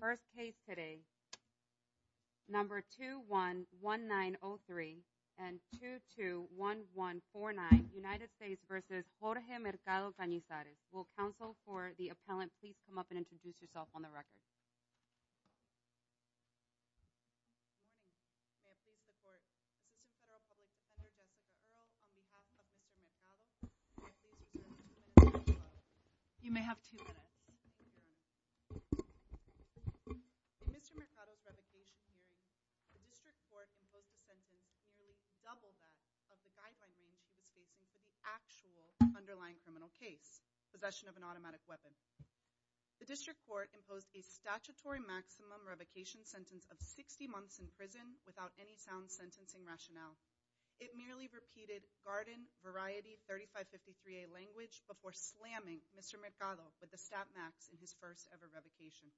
First case today, number 2-1-1-9-0-3 and 2-2-1-1-4-9, United States v. Jorge Mercado-Canizares. Will counsel for the appellant please come up and introduce yourself on the record? Good morning. I appeal to the court, Assistant Federal Public Defender, Jessica Earle, on behalf of Mr. Mercado. May I please have two minutes? You may have two minutes. In Mr. Mercado's revocation hearing, the District Court imposed a sentence nearly double that of the guideline range he was facing for the actual underlying criminal case, possession of an automatic weapon. The District Court imposed a statutory maximum revocation sentence of 60 months in prison without any sound sentencing rationale. It merely repeated garden variety 3553A language before slamming Mr. Mercado with the stat max in his first ever revocation.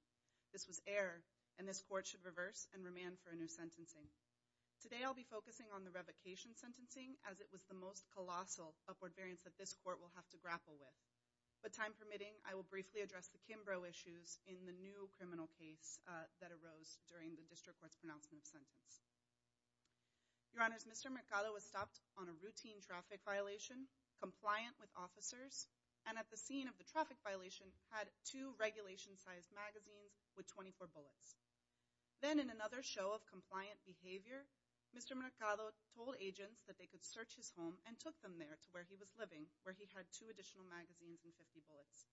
This was error and this court should reverse and remand for a new sentencing. Today I'll be focusing on the revocation sentencing as it was the most colossal upward variance that this court will have to grapple with. With time permitting, I will briefly address the Kimbrough issues in the new criminal case that arose during the District Court's pronouncement of sentence. Your Honors, Mr. Mercado was stopped on a routine traffic violation, compliant with officers, and at the scene of the traffic violation had two regulation sized magazines with 24 bullets. Then in another show of compliant behavior, Mr. Mercado told agents that they could search his home and took them there to where he was living, where he had two additional magazines and 50 bullets.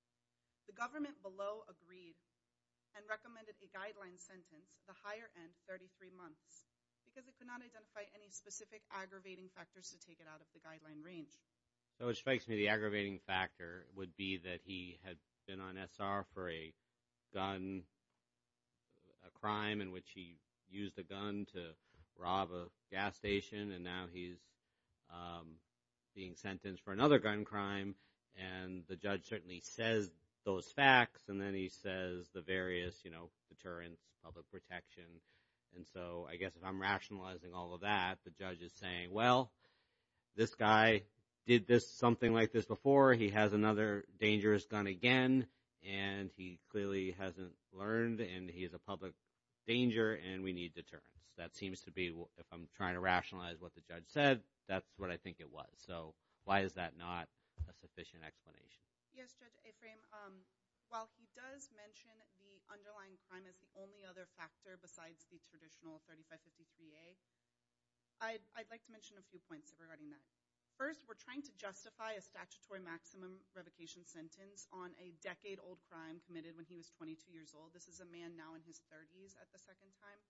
The government below agreed and recommended a guideline sentence, the higher end, 33 months. Because it could not identify any specific aggravating factors to take it out of the guideline range. So it strikes me the aggravating factor would be that he had been on SR for a gun – a crime in which he used a gun to rob a gas station, and now he's being sentenced for another gun crime. And the judge certainly says those facts, and then he says the various deterrents, public protection. And so I guess if I'm rationalizing all of that, the judge is saying, well, this guy did something like this before. He has another dangerous gun again, and he clearly hasn't learned, and he is a public danger, and we need deterrence. That seems to be – if I'm trying to rationalize what the judge said, that's what I think it was. So why is that not a sufficient explanation? Yes, Judge Ephraim. While he does mention the underlying crime as the only other factor besides the traditional 3553A, I'd like to mention a few points regarding that. First, we're trying to justify a statutory maximum revocation sentence on a decade-old crime committed when he was 22 years old. This is a man now in his 30s at the second time.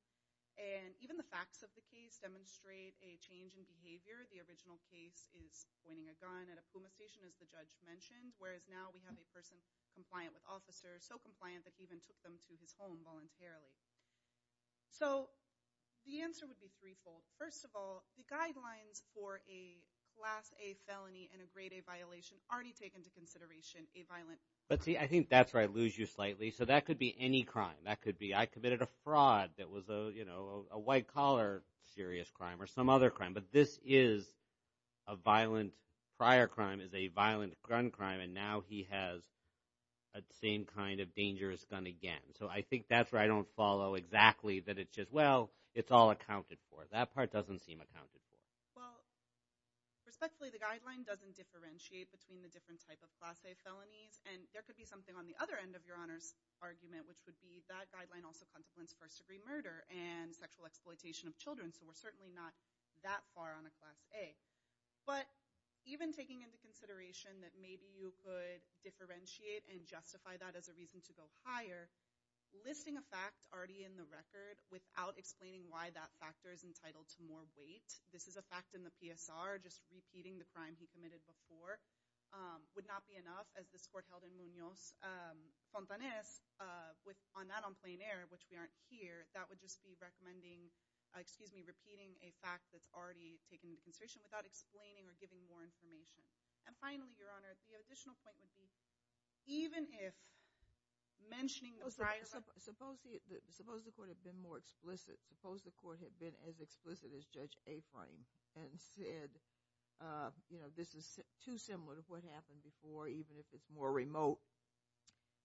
And even the facts of the case demonstrate a change in behavior. The original case is pointing a gun at a Puma station, as the judge mentioned, whereas now we have a person compliant with officers, so compliant that he even took them to his home voluntarily. So the answer would be threefold. First of all, the guidelines for a Class A felony and a Grade A violation already take into consideration a violent – But see, I think that's where I lose you slightly. So that could be any crime. That could be I committed a fraud that was a white-collar serious crime or some other crime. But this is a violent prior crime, is a violent gun crime, and now he has the same kind of dangerous gun again. So I think that's where I don't follow exactly that it's just, well, it's all accounted for. That part doesn't seem accounted for. Well, respectfully, the guideline doesn't differentiate between the different type of Class A felonies, and there could be something on the other end of Your Honor's argument, which would be that guideline also and sexual exploitation of children. So we're certainly not that far on a Class A. But even taking into consideration that maybe you could differentiate and justify that as a reason to go higher, listing a fact already in the record without explaining why that factor is entitled to more weight, this is a fact in the PSR, just repeating the crime he committed before, would not be enough, as this court held in Munoz. Fontanez, not on plain air, which we aren't here, that would just be recommending, excuse me, repeating a fact that's already taken into consideration without explaining or giving more information. And finally, Your Honor, the additional point would be even if mentioning the prior- Suppose the court had been more explicit. Suppose the court had been as explicit as Judge Aframe and said, you know, this is too similar to what happened before, even if it's more remote,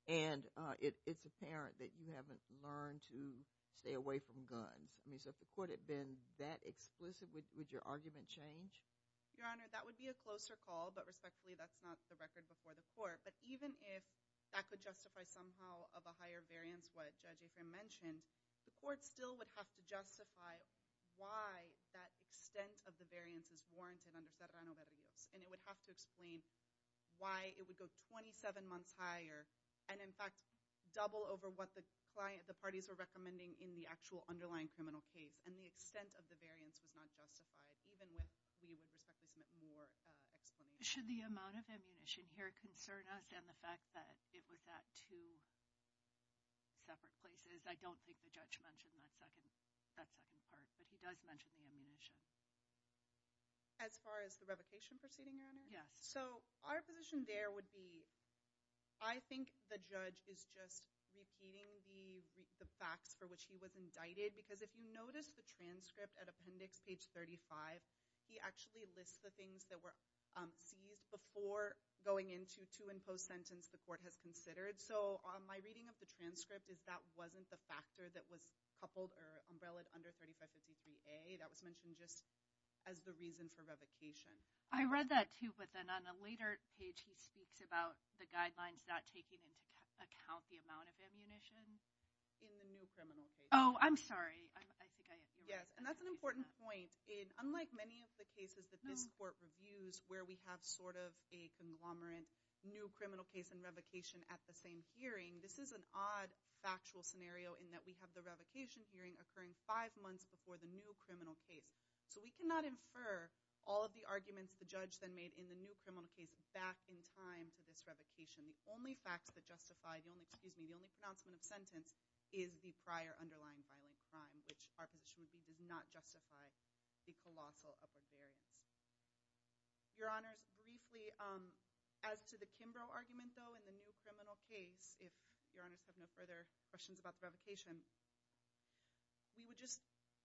and it's apparent that you haven't learned to stay away from guns. I mean, so if the court had been that explicit, would your argument change? Your Honor, that would be a closer call, but respectfully, that's not the record before the court. But even if that could justify somehow of a higher variance what Judge Aframe mentioned, the court still would have to justify why that extent of the variance is warranted under Serrano-Barrios. And it would have to explain why it would go 27 months higher, and in fact double over what the parties were recommending in the actual underlying criminal case. And the extent of the variance was not justified, even when we would respectfully submit more explanation. Should the amount of ammunition here concern us and the fact that it was at two separate places? I don't think the judge mentioned that second part, but he does mention the ammunition. As far as the revocation proceeding, Your Honor? Yes. So our position there would be I think the judge is just repeating the facts for which he was indicted, because if you notice the transcript at appendix page 35, he actually lists the things that were seized before going into to impose sentence the court has considered. So my reading of the transcript is that wasn't the factor that was coupled or umbrellaed under 3553A. That was mentioned just as the reason for revocation. I read that too, but then on a later page he speaks about the guidelines not taking into account the amount of ammunition. In the new criminal case. Oh, I'm sorry. I think I ignored that. Yes, and that's an important point. Unlike many of the cases that this court reviews where we have sort of a conglomerate new criminal case and revocation at the same hearing, this is an odd factual scenario in that we have the revocation hearing occurring five months before the new criminal case. So we cannot infer all of the arguments the judge then made in the new criminal case back in time to this revocation. The only facts that justify the only pronouncement of sentence is the prior underlying violent crime, which our position would be did not justify the colossal of the variance. Your Honors, briefly, as to the Kimbrough argument, though, in the new criminal case, if Your Honors have no further questions about the revocation, we would just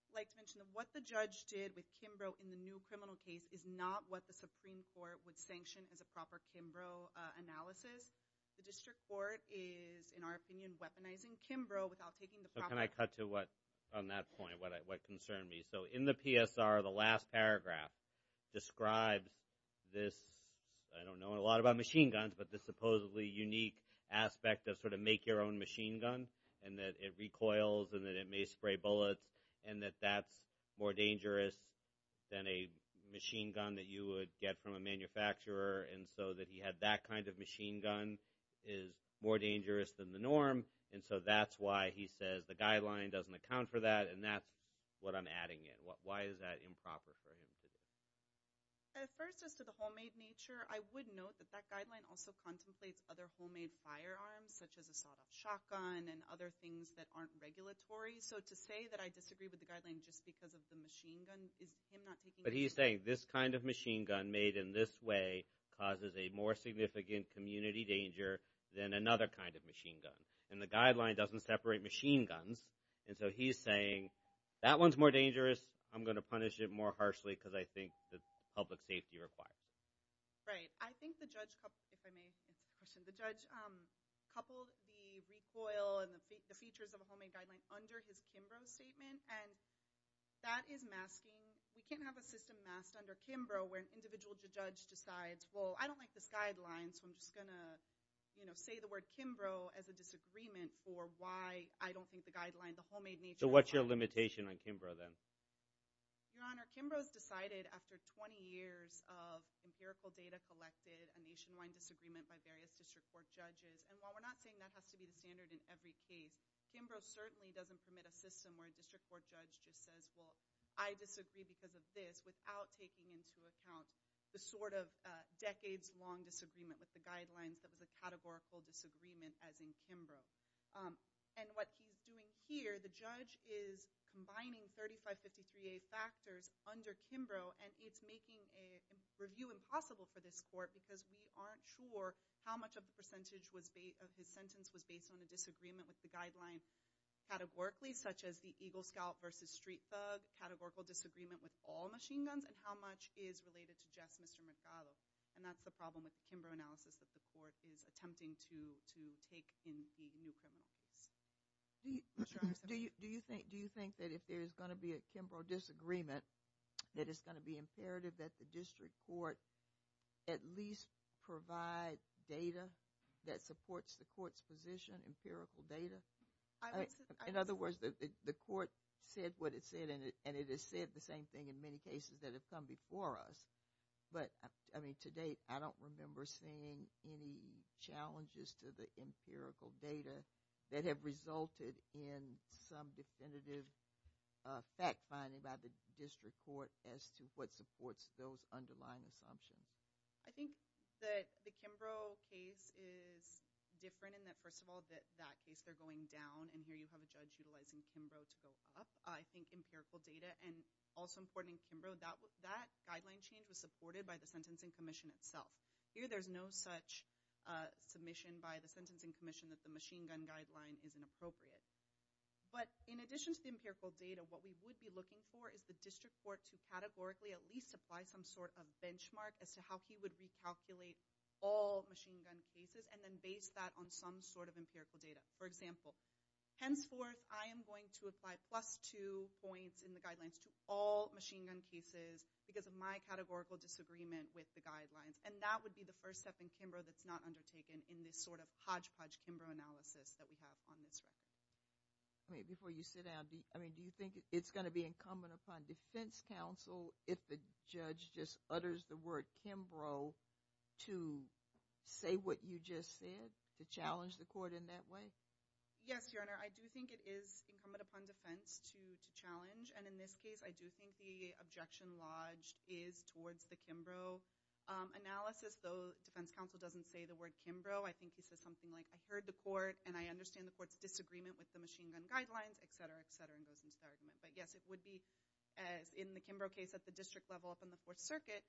like to mention that what the judge did with Kimbrough in the new criminal case is not what the Supreme Court would sanction as a proper Kimbrough analysis. The district court is, in our opinion, weaponizing Kimbrough without taking the proper- Can I cut to what, on that point, what concerned me? So in the PSR, the last paragraph describes this, I don't know a lot about machine guns, but this supposedly unique aspect of sort of make your own machine gun and that it recoils and that it may spray bullets and that that's more dangerous than a machine gun that you would get from a manufacturer and so that he had that kind of machine gun is more dangerous than the norm. And so that's why he says the guideline doesn't account for that and that's what I'm adding in. Why is that improper for him to do? At first, as to the homemade nature, I would note that that guideline also contemplates other homemade firearms, such as a sawed-off shotgun and other things that aren't regulatory. So to say that I disagree with the guideline just because of the machine gun is him not taking- But he's saying this kind of machine gun made in this way causes a more significant community danger than another kind of machine gun. And the guideline doesn't separate machine guns. And so he's saying that one's more dangerous, I'm going to punish it more harshly because I think that's public safety required. Right. I think the judge- if I may answer the question- the judge coupled the recoil and the features of a homemade guideline under his Kimbrough statement and that is masking- we can't have a system masked under Kimbrough where an individual judge decides, well, I don't like this guideline so I'm just going to say the word Kimbrough as a disagreement for why I don't think the guideline, the homemade nature- So what's your limitation on Kimbrough then? Your Honor, Kimbrough's decided after 20 years of empirical data collected, a nationwide disagreement by various district court judges. And while we're not saying that has to be the standard in every case, Kimbrough certainly doesn't permit a system where a district court judge just says, well, I disagree because of this without taking into account the sort of decades-long disagreement with the guidelines that was a categorical disagreement as in Kimbrough. And what he's doing here, the judge is combining 3553A factors under Kimbrough and it's making a review impossible for this court because we aren't sure how much of the percentage of his sentence was based on a disagreement with the guideline categorically, such as the Eagle Scout versus Street Thug, categorical disagreement with all machine guns, and how much is related to just Mr. Mercado. And that's the problem with the Kimbrough analysis that the court is attempting to take in the new criminal case. Do you think that if there is going to be a Kimbrough disagreement, that it's going to be imperative that the district court at least provide data that supports the court's position, empirical data? In other words, the court said what it said, and it has said the same thing in many cases that have come before us. But, I mean, to date I don't remember seeing any challenges to the empirical data that have resulted in some definitive fact-finding by the district court as to what supports those underlying assumptions. I think that the Kimbrough case is different in that, first of all, that case they're going down, and here you have a judge utilizing Kimbrough to go up. I think empirical data, and also important in Kimbrough, that guideline change was supported by the Sentencing Commission itself. Here there's no such submission by the Sentencing Commission that the machine gun guideline is inappropriate. But in addition to the empirical data, what we would be looking for is the district court to categorically at least apply some sort of benchmark as to how he would recalculate all machine gun cases, and then base that on some sort of empirical data. For example, henceforth I am going to apply plus two points in the guidelines to all machine gun cases because of my categorical disagreement with the guidelines. And that would be the first step in Kimbrough that's not undertaken in this sort of hodgepodge Kimbrough analysis that we have on this record. Before you sit down, do you think it's going to be incumbent upon defense counsel if the judge just utters the word Kimbrough to say what you just said, to challenge the court in that way? Yes, Your Honor, I do think it is incumbent upon defense to challenge, and in this case I do think the objection lodged is towards the Kimbrough analysis, though defense counsel doesn't say the word Kimbrough. I think he says something like, I heard the court and I understand the court's disagreement with the machine gun guidelines, et cetera, et cetera, and goes into the argument. But yes, it would be in the Kimbrough case at the district level up in the Fourth Circuit,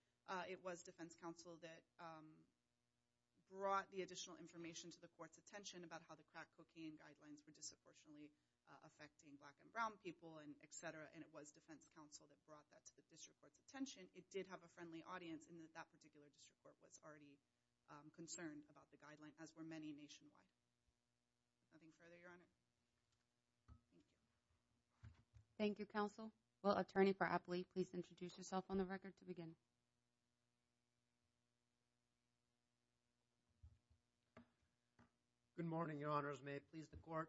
it was defense counsel that brought the additional information to the court's attention about how the crack cocaine guidelines were disproportionately affecting black and brown people, et cetera, and it was defense counsel that brought that to the district court's attention. It did have a friendly audience in that that particular district court was already concerned about the guidelines, as were many nationwide. Nothing further, Your Honor. Thank you, counsel. Will attorney for Apley please introduce yourself on the record to begin? Good morning, Your Honors. May it please the court.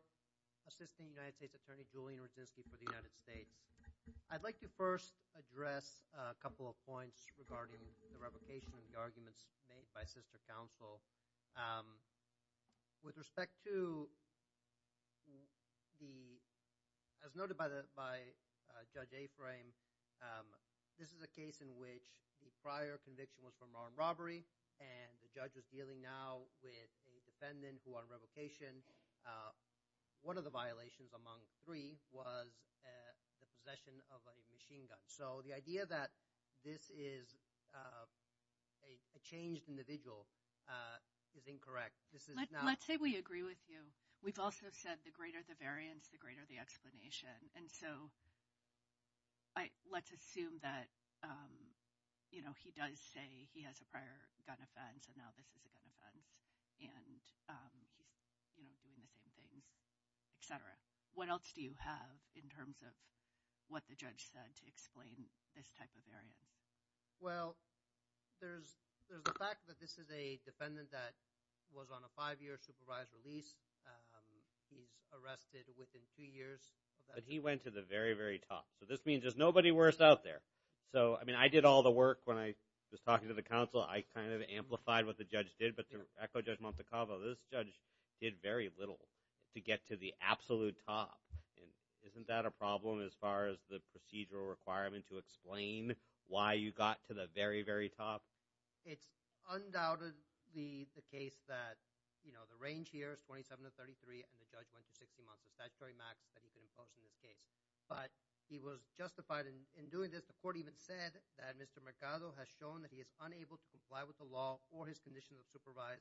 Assistant United States Attorney Julian Radzinski for the United States. I'd like to first address a couple of points regarding the revocation and the arguments made by sister counsel. With respect to the – as noted by Judge Aframe, this is a case in which the prior conviction was from armed robbery and the judge is dealing now with a defendant who won a revocation. One of the violations among three was the possession of a machine gun. So the idea that this is a changed individual is incorrect. Let's say we agree with you. We've also said the greater the variance, the greater the explanation. And so let's assume that he does say he has a prior gun offense and now this is a gun offense and he's doing the same things, et cetera. What else do you have in terms of what the judge said to explain this type of variance? Well, there's the fact that this is a defendant that was on a five-year supervised release. He's arrested within two years. But he went to the very, very top. So this means there's nobody worse out there. So, I mean, I did all the work when I was talking to the counsel. I kind of amplified what the judge did. But to echo Judge Montecalvo, this judge did very little to get to the absolute top. Isn't that a problem as far as the procedural requirement to explain why you got to the very, very top? It's undoubtedly the case that, you know, the range here is 27 to 33, and the judge went to 60 months of statutory max that he could impose in this case. But he was justified in doing this. The court even said that Mr. Mercado has shown that he is unable to comply with the law or his condition of supervision.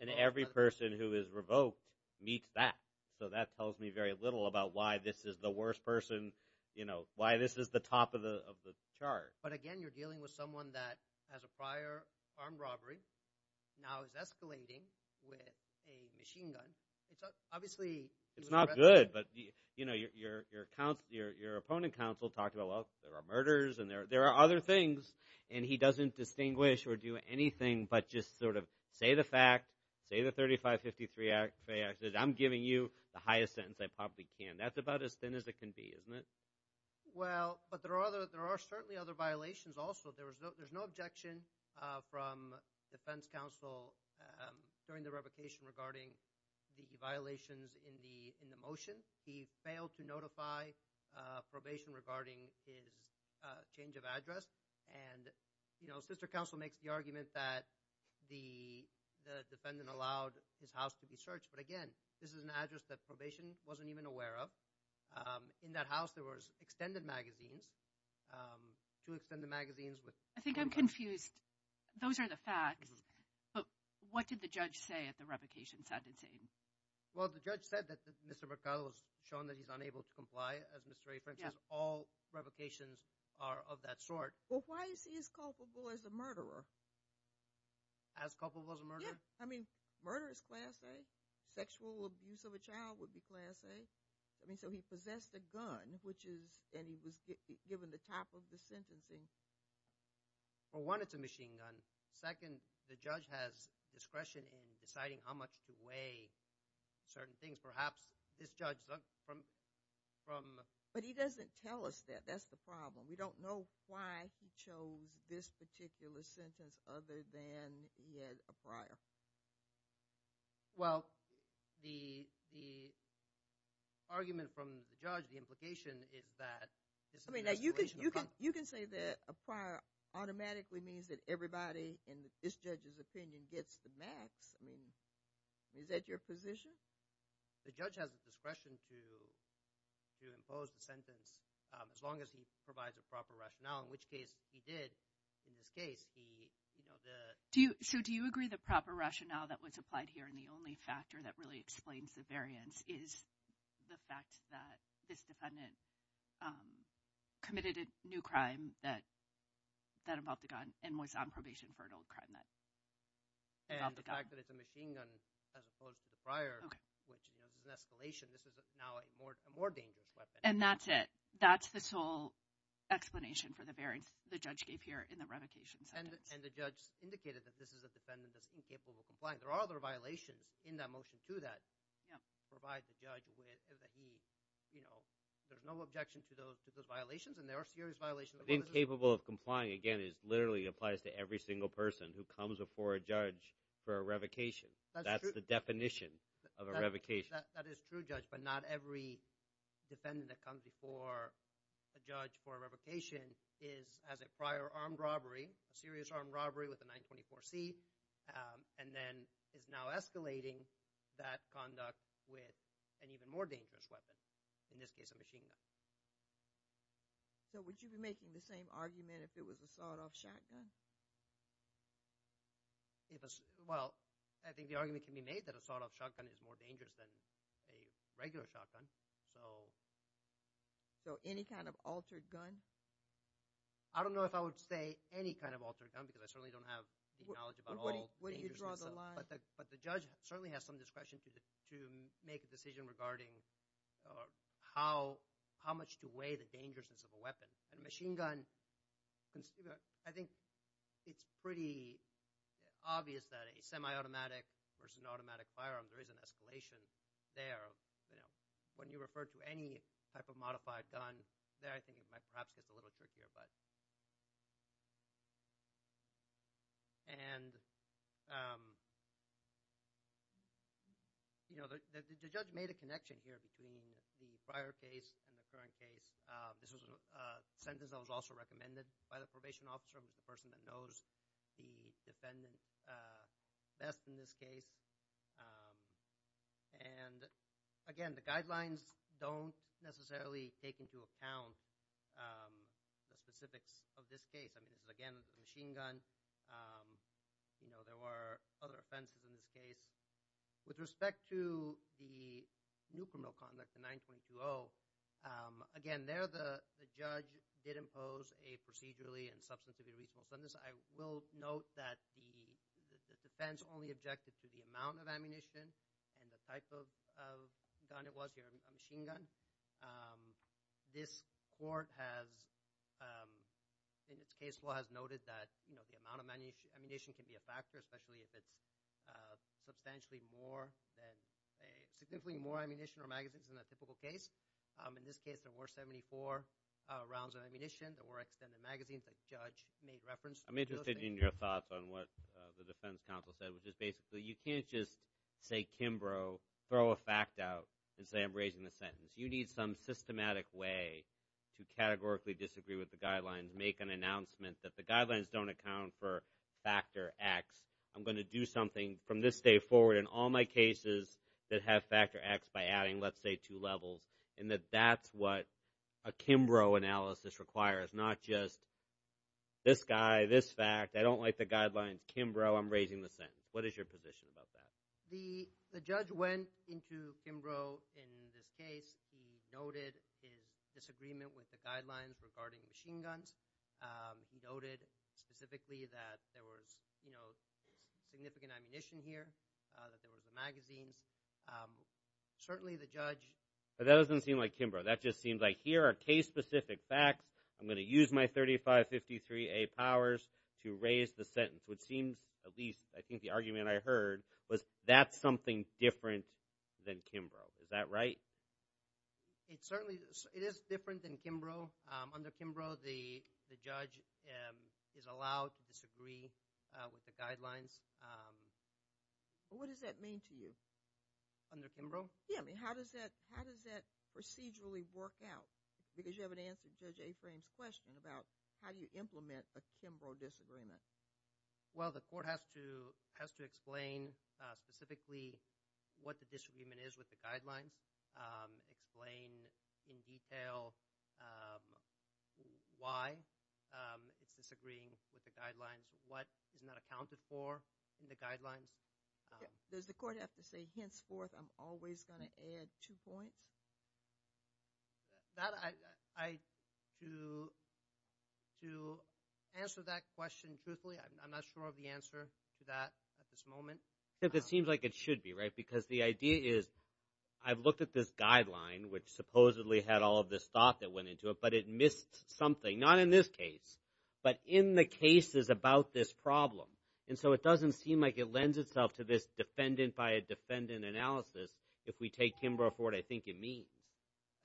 And every person who is revoked meets that. So that tells me very little about why this is the worst person, you know, why this is the top of the chart. But, again, you're dealing with someone that has a prior armed robbery, now is escalating with a machine gun. It's not good, but, you know, your opponent counsel talked about, well, there are murders and there are other things, and he doesn't distinguish or do anything but just sort of say the fact, say the 3553 Act, say I'm giving you the highest sentence I probably can. That's about as thin as it can be, isn't it? Well, but there are certainly other violations also. There's no objection from defense counsel during the revocation regarding the violations in the motion. He failed to notify probation regarding his change of address. And, you know, sister counsel makes the argument that the defendant allowed his house to be searched. But, again, this is an address that probation wasn't even aware of. In that house there was extended magazines, two extended magazines. I think I'm confused. Those are the facts. But what did the judge say at the revocation sentencing? Well, the judge said that Mr. Mercado was shown that he's unable to comply, as Mr. A. French says. All revocations are of that sort. Well, why is he as culpable as a murderer? As culpable as a murderer? Yeah, I mean, murder is class A. Sexual abuse of a child would be class A. I mean, so he possessed a gun, which is – and he was given the top of the sentencing. Well, one, it's a machine gun. Second, the judge has discretion in deciding how much to weigh certain things. Perhaps this judge from – But he doesn't tell us that. That's the problem. We don't know why he chose this particular sentence other than he had a prior. Well, the argument from the judge, the implication, is that this is an escalation of crime. I mean, you can say that a prior automatically means that everybody in this judge's opinion gets the max. I mean, is that your position? The judge has the discretion to impose the sentence as long as he provides a proper rationale, in which case he did in this case. So do you agree the proper rationale that was applied here and the only factor that really explains the variance is the fact that this defendant committed a new crime that involved a gun and was on probation for an old crime that involved a gun? And the fact that it's a machine gun as opposed to the prior, which is an escalation. This is now a more dangerous weapon. And that's it. That's the sole explanation for the variance the judge gave here in the revocation sentence. And the judge indicated that this is a defendant that's incapable of complying. There are other violations in that motion too that provide the judge with – that he – there's no objection to those violations, and there are serious violations. Incapable of complying, again, literally applies to every single person who comes before a judge for a revocation. That's true. That's the definition of a revocation. That is true, Judge, but not every defendant that comes before a judge for a revocation is – has a prior armed robbery, a serious armed robbery with a 924C, and then is now escalating that conduct with an even more dangerous weapon, in this case a machine gun. So would you be making the same argument if it was a sawed-off shotgun? Well, I think the argument can be made that a sawed-off shotgun is more dangerous than a regular shotgun. So any kind of altered gun? I don't know if I would say any kind of altered gun because I certainly don't have the knowledge about all dangerousness. But the judge certainly has some discretion to make a decision regarding how much to weigh the dangerousness of a weapon. A machine gun – I think it's pretty obvious that a semi-automatic versus an automatic firearm, there is an escalation there. When you refer to any type of modified gun there, I think it might perhaps get a little trickier. And the judge made a connection here between the prior case and the current case. This was a sentence that was also recommended by the probation officer. I'm the person that knows the defendant best in this case. And again, the guidelines don't necessarily take into account the specifics of this case. Again, it's a machine gun. There were other offenses in this case. With respect to the new criminal conduct, the 922-0, again, there the judge did impose a procedurally and substantively reasonable sentence. I will note that the defense only objected to the amount of ammunition and the type of gun it was here, a machine gun. This court has in its case law has noted that the amount of ammunition can be a factor, especially if it's substantially more than – significantly more ammunition or magazines than a typical case. In this case, there were 74 rounds of ammunition. There were extended magazines that the judge made reference to. I'm interested in your thoughts on what the defense counsel said, which is basically you can't just say Kimbrough, throw a fact out, and say I'm raising the sentence. You need some systematic way to categorically disagree with the guidelines, make an announcement that the guidelines don't account for factor X. I'm going to do something from this day forward in all my cases that have factor X by adding, let's say, two levels, and that that's what a Kimbrough analysis requires, not just this guy, this fact. I don't like the guidelines. Kimbrough, I'm raising the sentence. What is your position about that? The judge went into Kimbrough in this case. He noted his disagreement with the guidelines regarding machine guns. He noted specifically that there was significant ammunition here, that there was the magazines. Certainly, the judge- But that doesn't seem like Kimbrough. That just seems like here are case-specific facts. I'm going to use my 3553A powers to raise the sentence, which seems at least I think the argument I heard was that's something different than Kimbrough. Is that right? It certainly is. It is different than Kimbrough. Under Kimbrough, the judge is allowed to disagree with the guidelines. What does that mean to you? Under Kimbrough? Yeah, I mean, how does that procedurally work out? Because you haven't answered Judge Aframe's question about how you implement a Kimbrough disagreement. Well, the court has to explain specifically what the disagreement is with the guidelines, explain in detail why it's disagreeing with the guidelines, what is not accounted for in the guidelines. Does the court have to say, henceforth, I'm always going to add two points? To answer that question truthfully, I'm not sure of the answer to that at this moment. Except it seems like it should be, right? Because the idea is I've looked at this guideline, which supposedly had all of this thought that went into it, but it missed something. Not in this case, but in the cases about this problem. And so it doesn't seem like it lends itself to this defendant-by-defendant analysis if we take Kimbrough for what I think it means.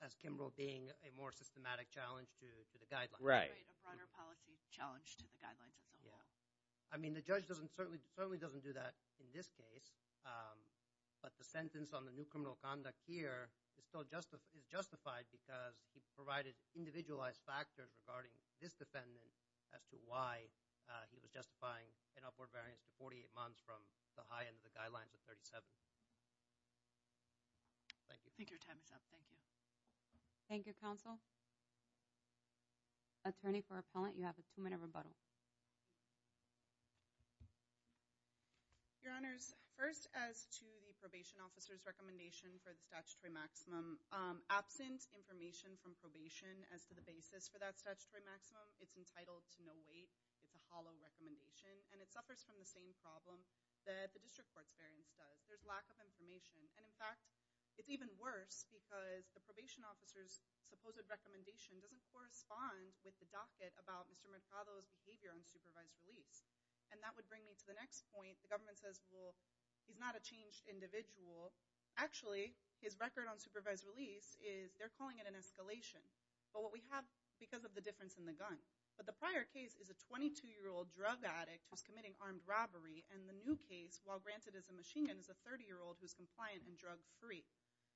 That's Kimbrough being a more systematic challenge to the guidelines. Right. A broader policy challenge to the guidelines itself. Yeah. I mean, the judge certainly doesn't do that in this case. But the sentence on the new criminal conduct here is still justified because he provided individualized factors regarding this defendant as to why he was justifying an upward variance to 48 months from the high end of the guidelines of 37. Thank you. I think your time is up. Thank you. Thank you, counsel. Attorney for Appellant, you have a two-minute rebuttal. Your Honors, first, as to the probation officer's recommendation for the statutory maximum, absent information from probation as to the basis for that statutory maximum, it's entitled to no weight. It's a hollow recommendation. And it suffers from the same problem that the district court's variance does. There's lack of information. And, in fact, it's even worse because the probation officer's supposed recommendation doesn't correspond with the docket about Mr. Mercado's behavior on supervised release. And that would bring me to the next point. The government says, well, he's not a changed individual. Actually, his record on supervised release is they're calling it an escalation. But what we have because of the difference in the gun. But the prior case is a 22-year-old drug addict who's committing armed robbery. And the new case, while granted as a machine gun, is a 30-year-old who's compliant and drug-free.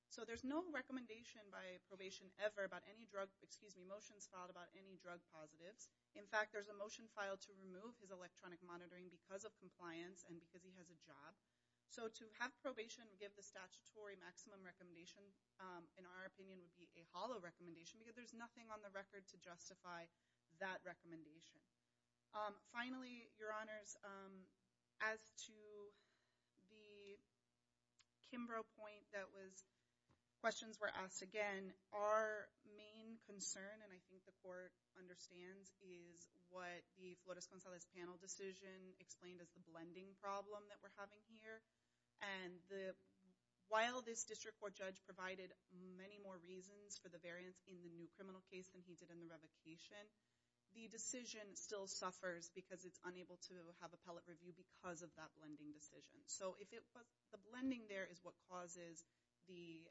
So there's no recommendation by probation ever about any drug, excuse me, motions filed about any drug positives. In fact, there's a motion filed to remove his electronic monitoring because of compliance and because he has a job. So to have probation give the statutory maximum recommendation, in our opinion, would be a hollow recommendation because there's nothing on the record to justify that recommendation. Finally, Your Honors, as to the Kimbrough point that was, questions were asked again. Our main concern, and I think the court understands, is what the Flores-Gonzalez panel decision explained as the blending problem that we're having here. And while this district court judge provided many more reasons for the variance in the new criminal case than he did in the revocation, the decision still suffers because it's unable to have appellate review because of that blending decision. So the blending there is what causes the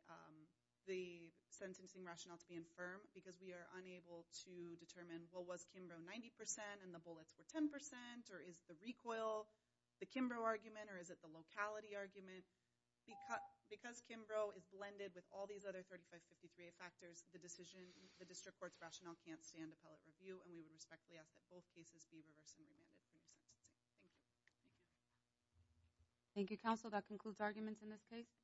sentencing rationale to be infirm because we are unable to determine, well, was Kimbrough 90% and the bullets were 10% or is the recoil the Kimbrough argument or is it the locality argument? Because Kimbrough is blended with all these other 3553A factors, the district court's rationale can't stand appellate review and we would respectfully ask that both cases be reversed and remanded. Thank you. Thank you, Counsel. That concludes arguments in this case.